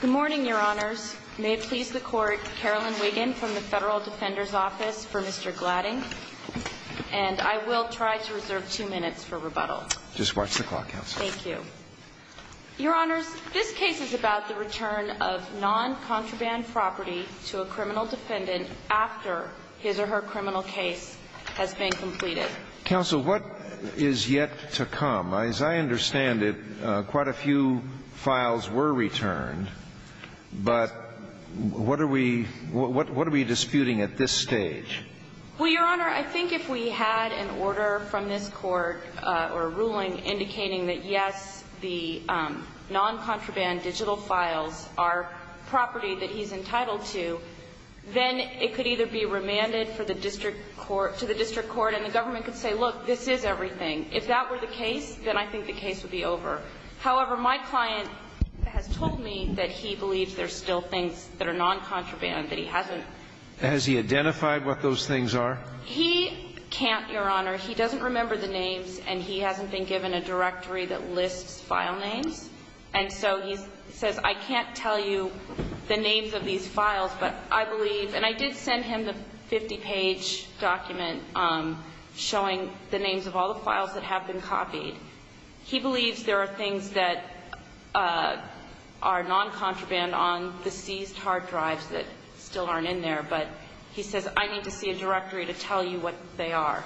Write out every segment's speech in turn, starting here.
Good morning, Your Honors. May it please the Court, Carolyn Wiggin from the Federal Defender's Office for Mr. Gladding. And I will try to reserve two minutes for rebuttal. Just watch the clock, Counsel. Thank you. Your Honors, this case is about the return of non-contraband property to a criminal defendant after his or her criminal case has been completed. Counsel, what is yet to come? As I understand it, quite a few files were returned, but what are we disputing at this stage? Well, Your Honor, I think if we had an order from this Court or a ruling indicating that, yes, the non-contraband digital files are property that he's entitled to, then it could either be remanded to the district court and the government could say, look, this is everything. If that were the case, then I think the case would be over. However, my client has told me that he believes there's still things that are non-contraband that he hasn't ---- Has he identified what those things are? He can't, Your Honor. He doesn't remember the names, and he hasn't been given a directory that lists file names. And so he says, I can't tell you the names of these files, but I believe ---- and I did send him the 50-page document showing the names of all the files that have been copied. He believes there are things that are non-contraband on the seized hard drives that still aren't in there, but he says, I need to see a directory to tell you what they are.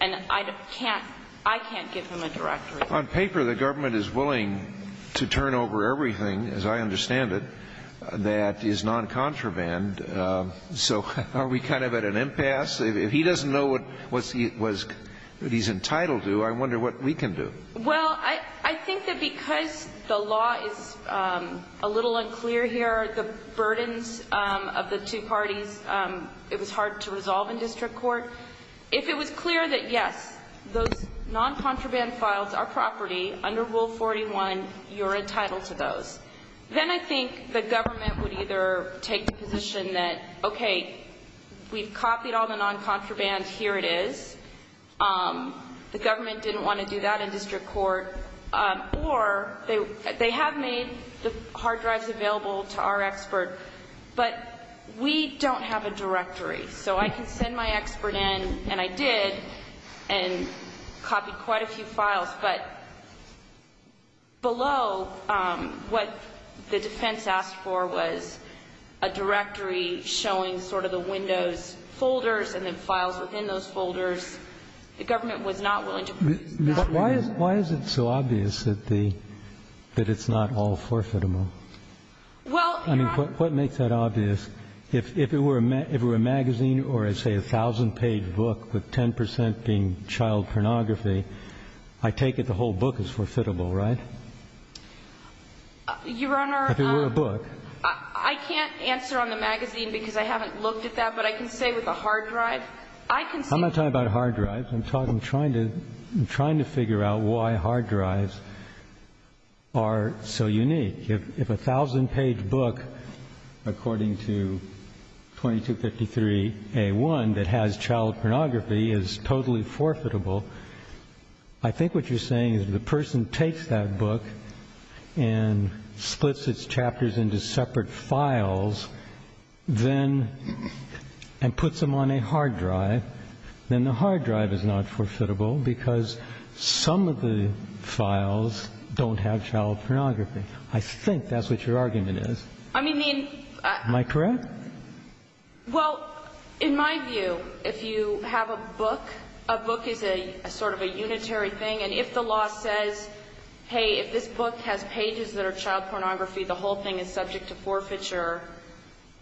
And I can't give him a directory. On paper, the government is willing to turn over everything, as I understand it, that is non-contraband. So are we kind of at an impasse? If he doesn't know what he's entitled to, I wonder what we can do. Well, I think that because the law is a little unclear here, the burdens of the two parties, it was hard to resolve in district court. If it was clear that, yes, those non-contraband files are property under Rule 41, you're entitled to those, then I think the government would either take the position that, okay, we've copied all the non-contraband, here it is. The government didn't want to do that in district court. But they have made the hard drives available to our expert, but we don't have a directory. So I can send my expert in, and I did, and copied quite a few files. But below what the defense asked for was a directory showing sort of the windows folders and the files within those folders. The government was not willing to produce that. But why is it so obvious that it's not all forfeitable? Well, Your Honor. I mean, what makes that obvious? If it were a magazine or, say, a 1,000-page book with 10 percent being child pornography, I take it the whole book is forfeitable, right? Your Honor, I can't answer on the magazine because I haven't looked at that. But I can say with a hard drive. I can say. I'm not talking about hard drives. I'm trying to figure out why hard drives are so unique. If a 1,000-page book, according to 2253A1, that has child pornography is totally forfeitable, I think what you're saying is if the person takes that book and splits its chapters into separate files and puts them on a hard drive, then the hard drive is not forfeitable because some of the files don't have child pornography. I think that's what your argument is. I mean, I mean. Am I correct? Well, in my view, if you have a book, a book is a sort of a unitary thing. And if the law says, hey, if this book has pages that are child pornography, the whole thing is subject to forfeiture,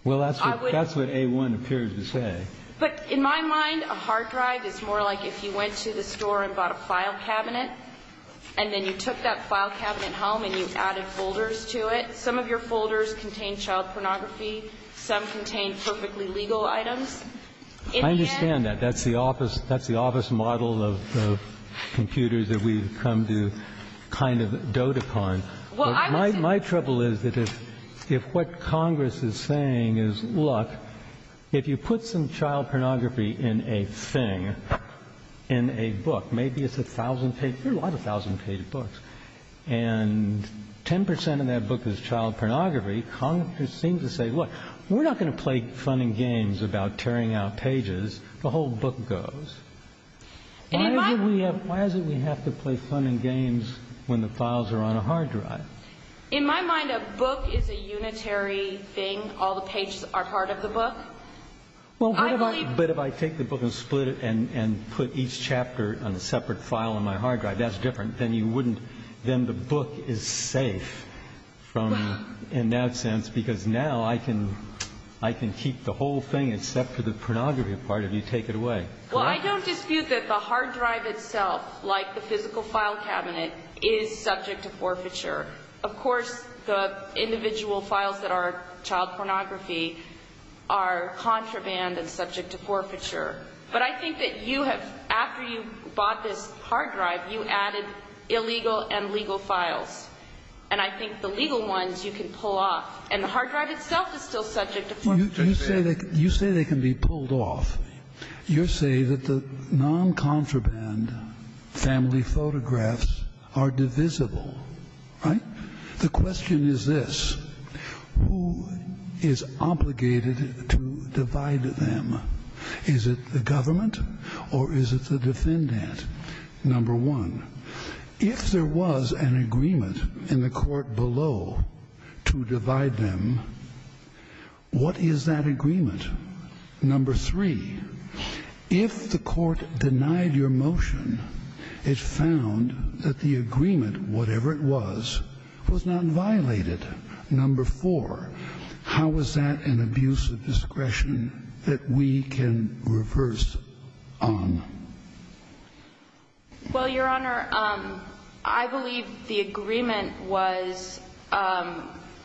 I would. Well, that's what A1 appears to say. But in my mind, a hard drive is more like if you went to the store and bought a file cabinet, and then you took that file cabinet home and you added folders to it. Some of your folders contain child pornography. Some contain perfectly legal items. I understand that. That's the office model of computers that we've come to kind of dote upon. My trouble is that if what Congress is saying is, look, if you put some child pornography in a thing, in a book, maybe it's 1,000 pages. There are a lot of 1,000 page books. And 10 percent of that book is child pornography. Congress seems to say, look, we're not going to play fun and games about tearing out pages. The whole book goes. Why is it we have to play fun and games when the files are on a hard drive? In my mind, a book is a unitary thing. All the pages are part of the book. But if I take the book and split it and put each chapter on a separate file on my hard drive, that's different. Then you wouldn't ‑‑ then the book is safe in that sense because now I can keep the whole thing except for the pornography part if you take it away. Well, I don't dispute that the hard drive itself, like the physical file cabinet, is subject to forfeiture. Of course, the individual files that are child pornography are contraband and subject to forfeiture. But I think that you have, after you bought this hard drive, you added illegal and legal files. And I think the legal ones you can pull off. And the hard drive itself is still subject to forfeiture. You say they can be pulled off. You say that the noncontraband family photographs are divisible. Right? The question is this. Who is obligated to divide them? Is it the government or is it the defendant? Number one, if there was an agreement in the court below to divide them, what is that agreement? Number three, if the court denied your motion, it found that the agreement, whatever it was, was not violated. Number four, how is that an abuse of discretion that we can reverse on? Well, Your Honor, I believe the agreement was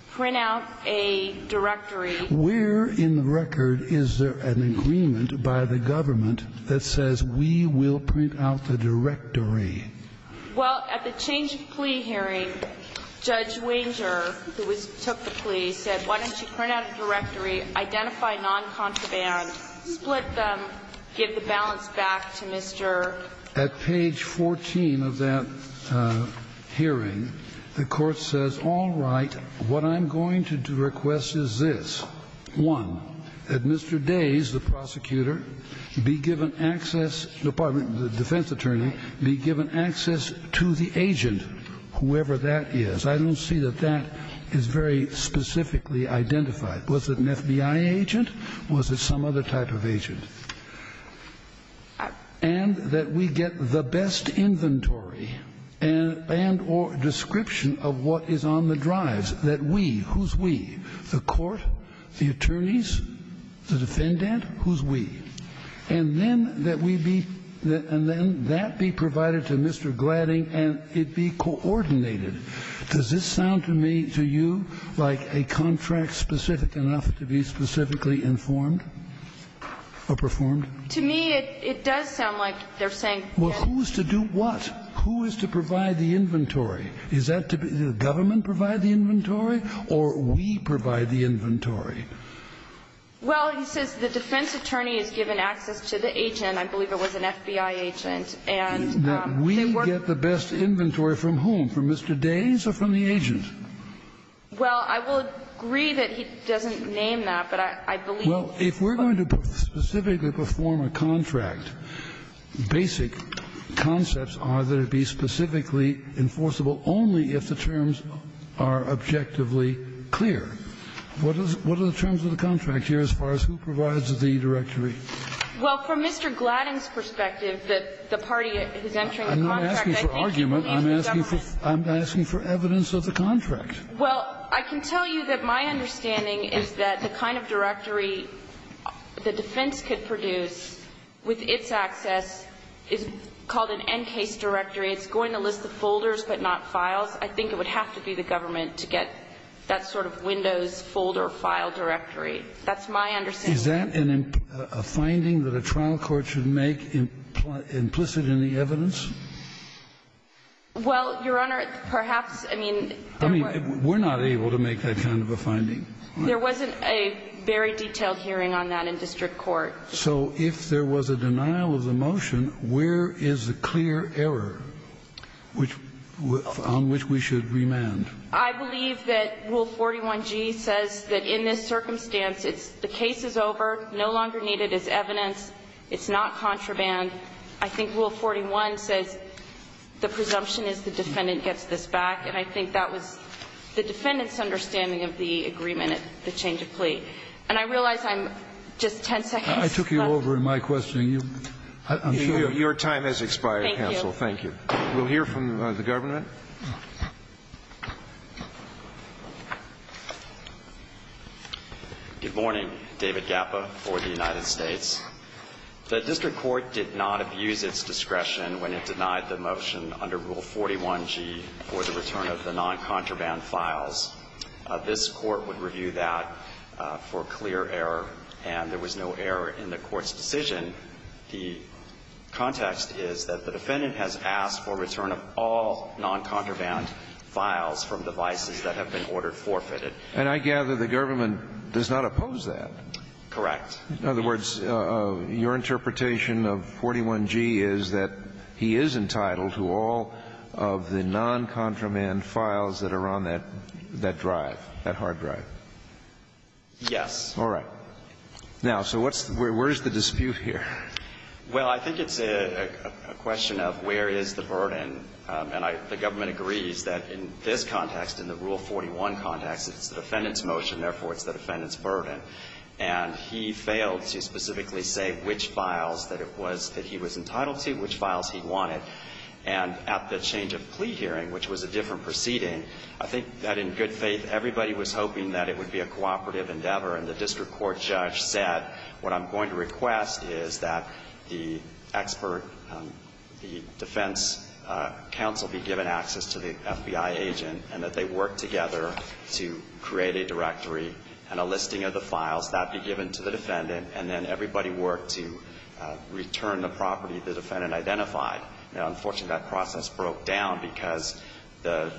print out a directory. Where in the record is there an agreement by the government that says we will print out the directory? Well, at the change of plea hearing, Judge Wanger, who took the plea, said why don't you print out a directory, identify noncontraband, split them, give the balance back to Mr. ---- At page 14 of that hearing, the court says, all right, what I'm going to request is this. One, that Mr. Days, the prosecutor, be given access to the agent, whoever that is. I don't see that that is very specifically identified. Was it an FBI agent? Was it some other type of agent? And that we get the best inventory and or description of what is on the drives, that we, who's we? The court? The attorneys? The defendant? Who's we? And then that we be, and then that be provided to Mr. Gladding and it be coordinated. Does this sound to me, to you, like a contract specific enough to be specifically informed or performed? To me, it does sound like they're saying that. Well, who is to do what? Who is to provide the inventory? Is that to be the government provide the inventory or we provide the inventory? Well, he says the defense attorney is given access to the agent. I believe it was an FBI agent. And they were. We get the best inventory from whom? From Mr. Days or from the agent? Well, I will agree that he doesn't name that, but I believe. Well, if we're going to specifically perform a contract, basic concepts are that it has to be specifically enforceable only if the terms are objectively clear. What are the terms of the contract here as far as who provides the directory? Well, from Mr. Gladding's perspective, the party is entering a contract. I'm not asking for argument. I'm asking for evidence of the contract. Well, I can tell you that my understanding is that the kind of directory the defense could produce with its access is called an NCASE directory. It's going to list the folders but not files. I think it would have to be the government to get that sort of Windows folder file directory. That's my understanding. Is that a finding that a trial court should make implicit in the evidence? Well, Your Honor, perhaps. I mean, there were. I mean, we're not able to make that kind of a finding. There wasn't a very detailed hearing on that in district court. So if there was a denial of the motion, where is the clear error on which we should remand? I believe that Rule 41g says that in this circumstance, the case is over, no longer needed as evidence, it's not contraband. I think Rule 41 says the presumption is the defendant gets this back, and I think that was the defendant's understanding of the agreement at the change of plea. And I realize I'm just 10 seconds left. I took you over in my questioning. I'm sorry. Your time has expired, counsel. Thank you. We'll hear from the governor. Good morning. David Gappa for the United States. The district court did not abuse its discretion when it denied the motion under Rule 41g for the return of the noncontraband files. This Court would review that for clear error, and there was no error in the Court's decision. The context is that the defendant has asked for return of all noncontraband files from devices that have been ordered forfeited. And I gather the government does not oppose that. Correct. In other words, your interpretation of 41g is that he is entitled to all noncontraband files that are on that drive, that hard drive. Yes. All right. Now, so what's the – where is the dispute here? Well, I think it's a question of where is the burden. And I – the government agrees that in this context, in the Rule 41 context, it's the defendant's motion, therefore it's the defendant's burden. And he failed to specifically say which files that it was that he was entitled to, which files he wanted. And at the change of plea hearing, which was a different proceeding, I think that in good faith everybody was hoping that it would be a cooperative endeavor. And the district court judge said, what I'm going to request is that the expert – the defense counsel be given access to the FBI agent and that they work together to create a directory and a listing of the files, that be given to the defendant, and then everybody worked to return the property the defendant identified. Now, unfortunately, that process broke down because the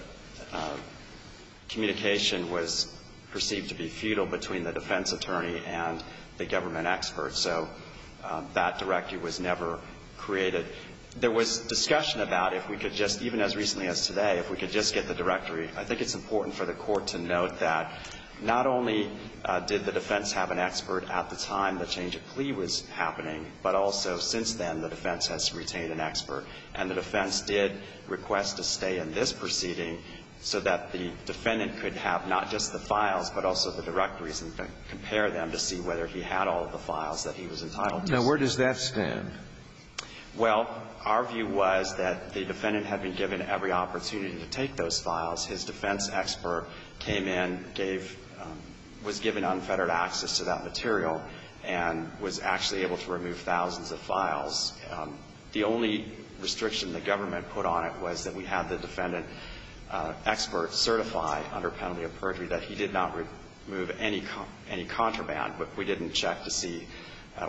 communication was perceived to be futile between the defense attorney and the government expert. So that directory was never created. There was discussion about if we could just – even as recently as today, if we could just get the directory. I think it's important for the Court to note that not only did the defense have an expert at the time the change of plea was happening, but also since then the defense has retained an expert. And the defense did request to stay in this proceeding so that the defendant could have not just the files, but also the directories, and compare them to see whether he had all of the files that he was entitled to see. Now, where does that stand? Well, our view was that the defendant had been given every opportunity to take those files. His defense expert came in, gave – was given unfettered access to that material and was actually able to remove thousands of files. The only restriction the government put on it was that we had the defendant expert certify under penalty of perjury that he did not remove any contraband. But we didn't check to see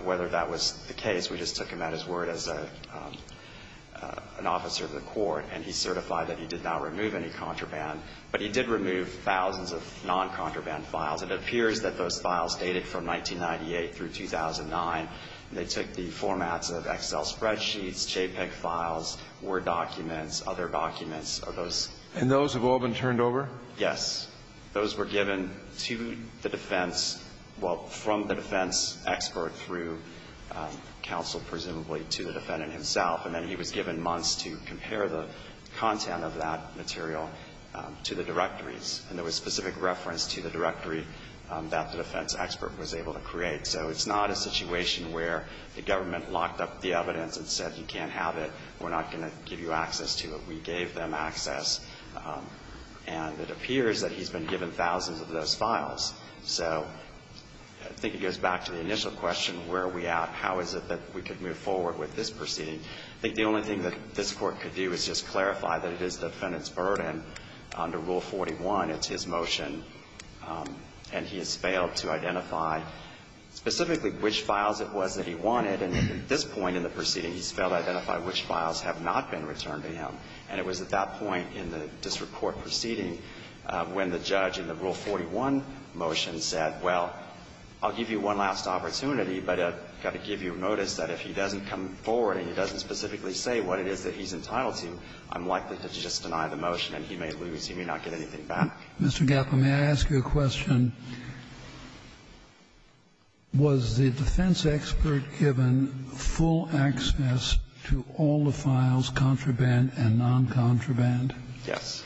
whether that was the case. We just took him at his word as an officer of the Court. And he certified that he did not remove any contraband. But he did remove thousands of non-contraband files. It appears that those files dated from 1998 through 2009. They took the formats of Excel spreadsheets, JPEG files, Word documents, other documents. Are those – And those have all been turned over? Yes. Those were given to the defense – well, from the defense expert through counsel presumably to the defendant himself. And then he was given months to compare the content of that material to the directories. And there was specific reference to the directory that the defense expert was able to create. So it's not a situation where the government locked up the evidence and said, you can't have it, we're not going to give you access to it. We gave them access. And it appears that he's been given thousands of those files. So I think it goes back to the initial question, where are we at, how is it that we could move forward with this proceeding? I think the only thing that this Court could do is just clarify that it is the defendant's burden under Rule 41. It's his motion. And he has failed to identify specifically which files it was that he wanted. And at this point in the proceeding, he's failed to identify which files have not been returned to him. And it was at that point in the district court proceeding when the judge in the Rule 41 motion said, well, I'll give you one last opportunity, but I've got to give you notice that if he doesn't come forward and he doesn't specifically say what it is that he's entitled to, I'm likely to just deny the motion and he may lose, he may not get anything back. Mr. Gappa, may I ask you a question? Was the defense expert given full access to all the files, contraband and noncontraband? Yes.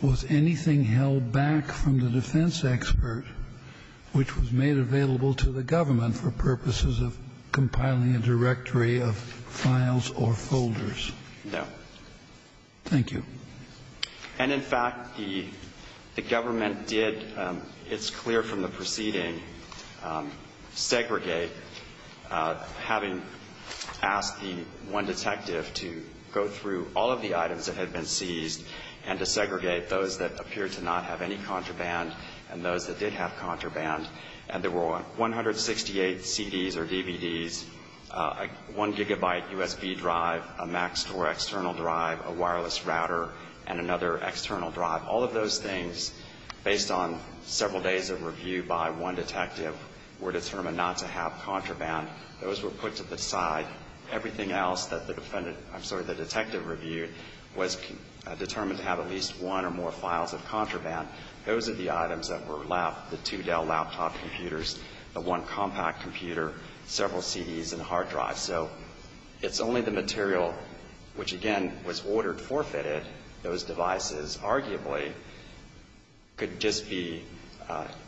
Was anything held back from the defense expert which was made available to the government for purposes of compiling a directory of files or folders? No. Thank you. And, in fact, the government did, it's clear from the proceeding, segregate, having asked the one detective to go through all of the items that had been seized and to segregate those that appeared to not have any contraband and those that did have contraband. And there were 168 CDs or DVDs, a 1-gigabyte USB drive, a Mac Store external drive, a wireless router, and another external drive. All of those things, based on several days of review by one detective, were determined not to have contraband. Those were put to the side. Everything else that the defendant, I'm sorry, the detective reviewed was determined to have at least one or more files of contraband. Those are the items that were left, the two Dell laptop computers, the one compact computer, several CDs and hard drives. So it's only the material which, again, was ordered forfeited, those devices arguably could just be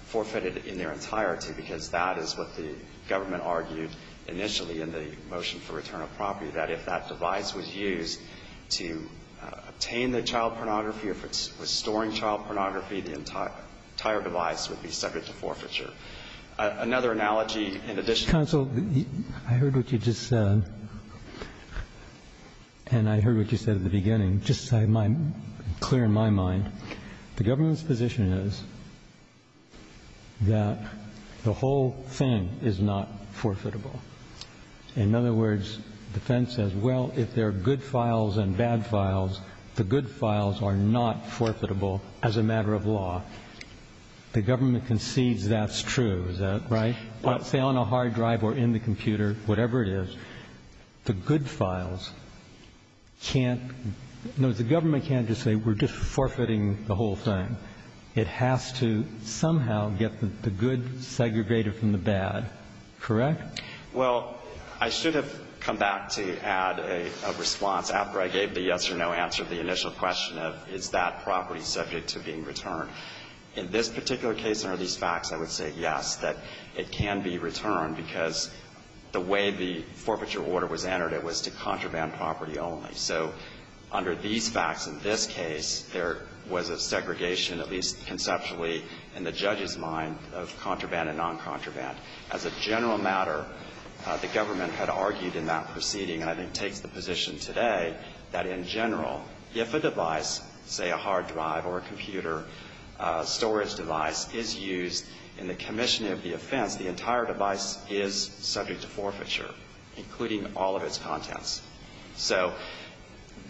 forfeited in their entirety because that is what the government argued initially in the motion for return of property, that if that device was used to obtain the child pornography, if it was storing child pornography, the entire device would be subject to forfeiture. Another analogy in addition to that. Roberts. Counsel, I heard what you just said, and I heard what you said at the beginning just clear in my mind. The government's position is that the whole thing is not forfeitable. In other words, defense says, well, if there are good files and bad files, the good files are not forfeitable as a matter of law. The government concedes that's true. Is that right? Say on a hard drive or in the computer, whatever it is, the good files can't – no, the government can't just say we're just forfeiting the whole thing. It has to somehow get the good segregated from the bad. Correct? Well, I should have come back to add a response after I gave the yes or no answer to the initial question of is that property subject to being returned. In this particular case, under these facts, I would say yes, that it can be returned because the way the forfeiture order was entered, it was to contraband property only. So under these facts in this case, there was a segregation, at least conceptually in the judge's mind, of contraband and noncontraband. As a general matter, the government had argued in that proceeding, and I think takes the position today, that in general, if a device, say a hard drive or a computer storage device, is used in the commission of the offense, the entire device is subject to forfeiture, including all of its contents. So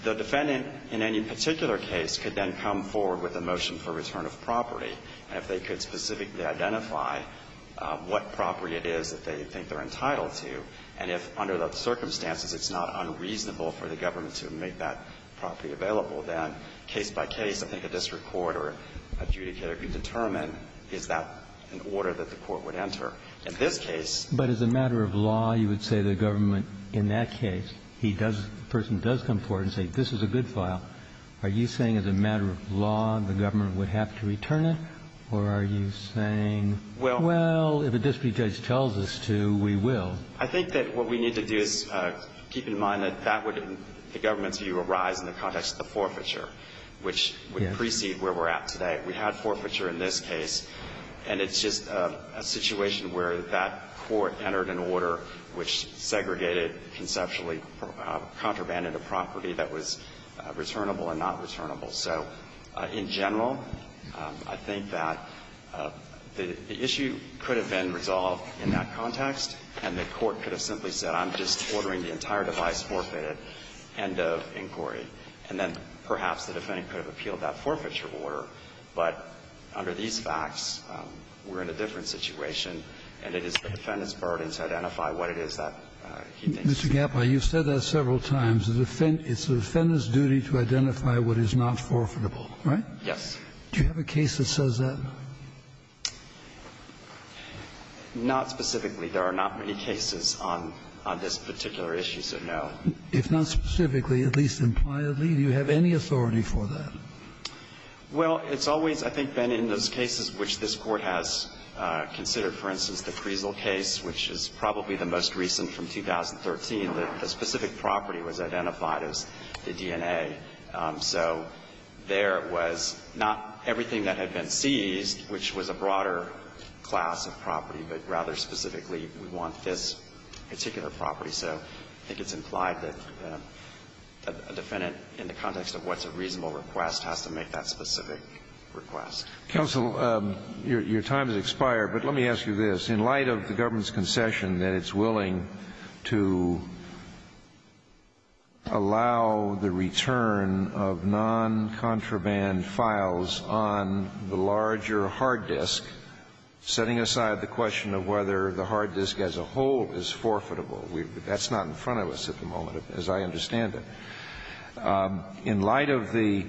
the defendant in any particular case could then come forward with a motion for Now, the question is, if the government is going to return the device to the government, what property is it that they think they're entitled to? And if under those circumstances, it's not unreasonable for the government to make that property available, then case by case, I think a district court or adjudicator could determine, is that an order that the court would enter. In this case ---- But as a matter of law, you would say the government in that case, he does, the person does come forward and say, this is a good file. Are you saying as a matter of law, the government would have to return it? Or are you saying, well, if a district judge tells us to, we will? I think that what we need to do is keep in mind that that would, in the government's view, arise in the context of the forfeiture, which would precede where we're at today. We had forfeiture in this case, and it's just a situation where that court entered an order which segregated, conceptually contrabanded a property that was returnable and not returnable. So in general, I think that the issue could have been resolved in that context, and the court could have simply said, I'm just ordering the entire device forfeited. End of inquiry. And then perhaps the defendant could have appealed that forfeiture order. But under these facts, we're in a different situation, and it is the defendant's duty as a court and to identify what it is that he thinks is right. Kennedy. Mr. Gappa, you've said that several times. It's the defendant's duty to identify what is not forfeitable, right? Yes. Do you have a case that says that? Not specifically. There are not many cases on this particular issue, so no. If not specifically, at least impliedly, do you have any authority for that? Well, it's always, I think, been in those cases which this Court has considered. For instance, the Creasle case, which is probably the most recent from 2013. The specific property was identified as the DNA. So there was not everything that had been seized, which was a broader class of property, but rather specifically, we want this particular property. So I think it's implied that a defendant, in the context of what's a reasonable request, has to make that specific request. Counsel, your time has expired, but let me ask you this. In light of the government's concession that it's willing to allow the return of noncontraband files on the larger hard disk, setting aside the question of whether the hard disk as a whole is forfeitable, that's not in front of us at the moment, as I understand it. In light of the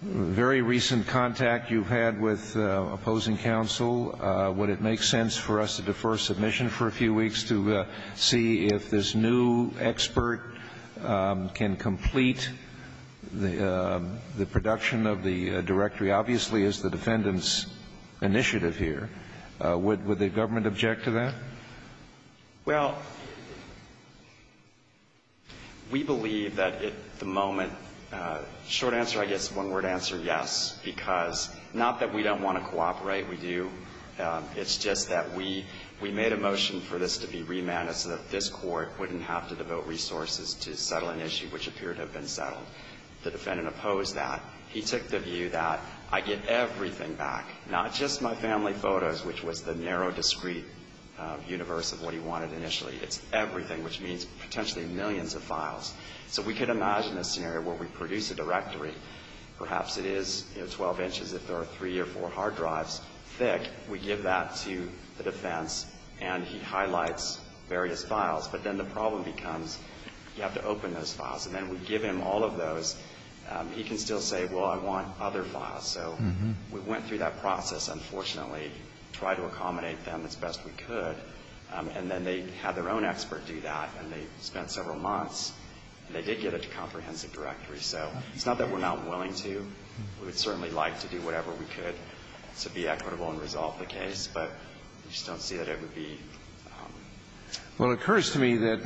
very recent contact you've had with opposing counsel, would it make sense for us to defer submission for a few weeks to see if this new expert can complete the production of the directory, obviously, as the defendant's initiative here? Would the government object to that? Well, we believe that at the moment, short answer, I guess, one-word answer, yes. Because not that we don't want to cooperate, we do. It's just that we made a motion for this to be remanded so that this Court wouldn't have to devote resources to settle an issue which appeared to have been settled. The defendant opposed that. He took the view that I get everything back, not just my family photo, which was the narrow, discrete universe of what he wanted initially. It's everything, which means potentially millions of files. So we could imagine a scenario where we produce a directory. Perhaps it is 12 inches if there are three or four hard drives thick. We give that to the defense, and he highlights various files. But then the problem becomes you have to open those files. And then we give him all of those. He can still say, well, I want other files. So we went through that process, unfortunately, tried to accommodate them as best we could. And then they had their own expert do that. And they spent several months, and they did get a comprehensive directory. So it's not that we're not willing to. We would certainly like to do whatever we could to be equitable and resolve the case. But we just don't see that it would be. Well, it occurs to me that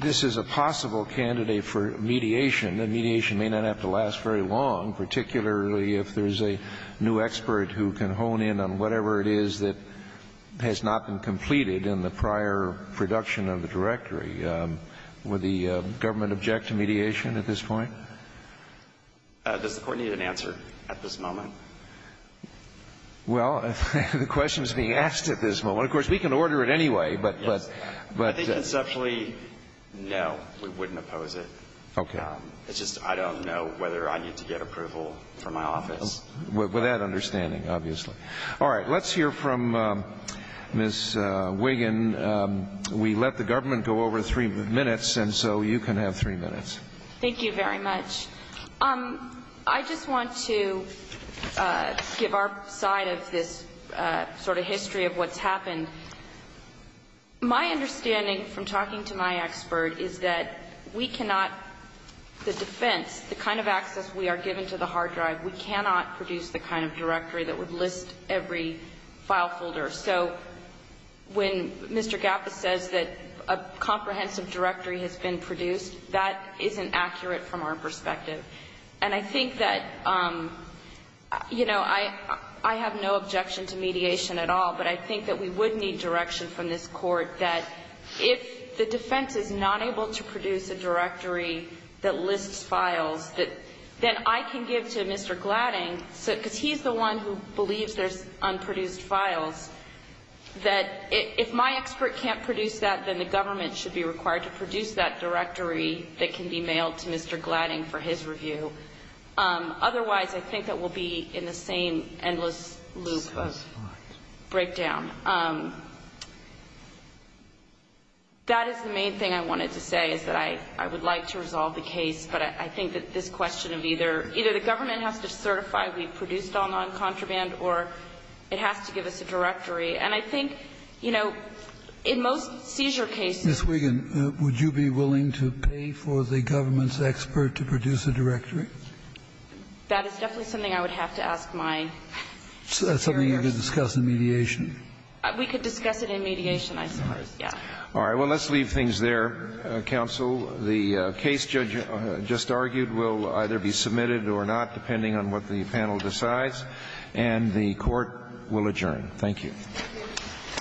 this is a possible candidate for mediation, and mediation may not have to last very long, particularly if there's a new expert who can hone in on whatever it is that has not been completed in the prior production of the directory. Would the government object to mediation at this point? Does the Court need an answer at this moment? Well, the question is being asked at this moment. Of course, we can order it anyway. Yes. I think conceptually, no, we wouldn't oppose it. Okay. It's just I don't know whether I need to get approval from my office. With that understanding, obviously. All right. Let's hear from Ms. Wiggin. We let the government go over three minutes, and so you can have three minutes. Thank you very much. I just want to give our side of this sort of history of what's happened. My understanding from talking to my expert is that we cannot, the defense, the kind of access we are given to the hard drive, we cannot produce the kind of directory that would list every file folder. So when Mr. Gapas says that a comprehensive directory has been produced, that isn't accurate from our perspective. And I think that, you know, I have no objection to mediation at all, but I think that we would need direction from this Court that if the defense is not able to produce a directory that lists files, that then I can give to Mr. Gladding, because he's the one who believes there's unproduced files, that if my expert can't produce that, then the government should be required to produce that file to Mr. Gladding for his review. Otherwise, I think that we'll be in the same endless loop of breakdown. That is the main thing I wanted to say, is that I would like to resolve the case, but I think that this question of either the government has to certify we produced all noncontraband, or it has to give us a directory. And I think, you know, in most seizure cases ---- This is a question of whether the government is expert to produce a directory. That is definitely something I would have to ask my lawyers. That's something you could discuss in mediation. We could discuss it in mediation, I suppose. All right. Yeah. All right. Well, let's leave things there, counsel. The case, Judge, just argued will either be submitted or not, depending on what the panel decides. And the Court will adjourn. Thank you.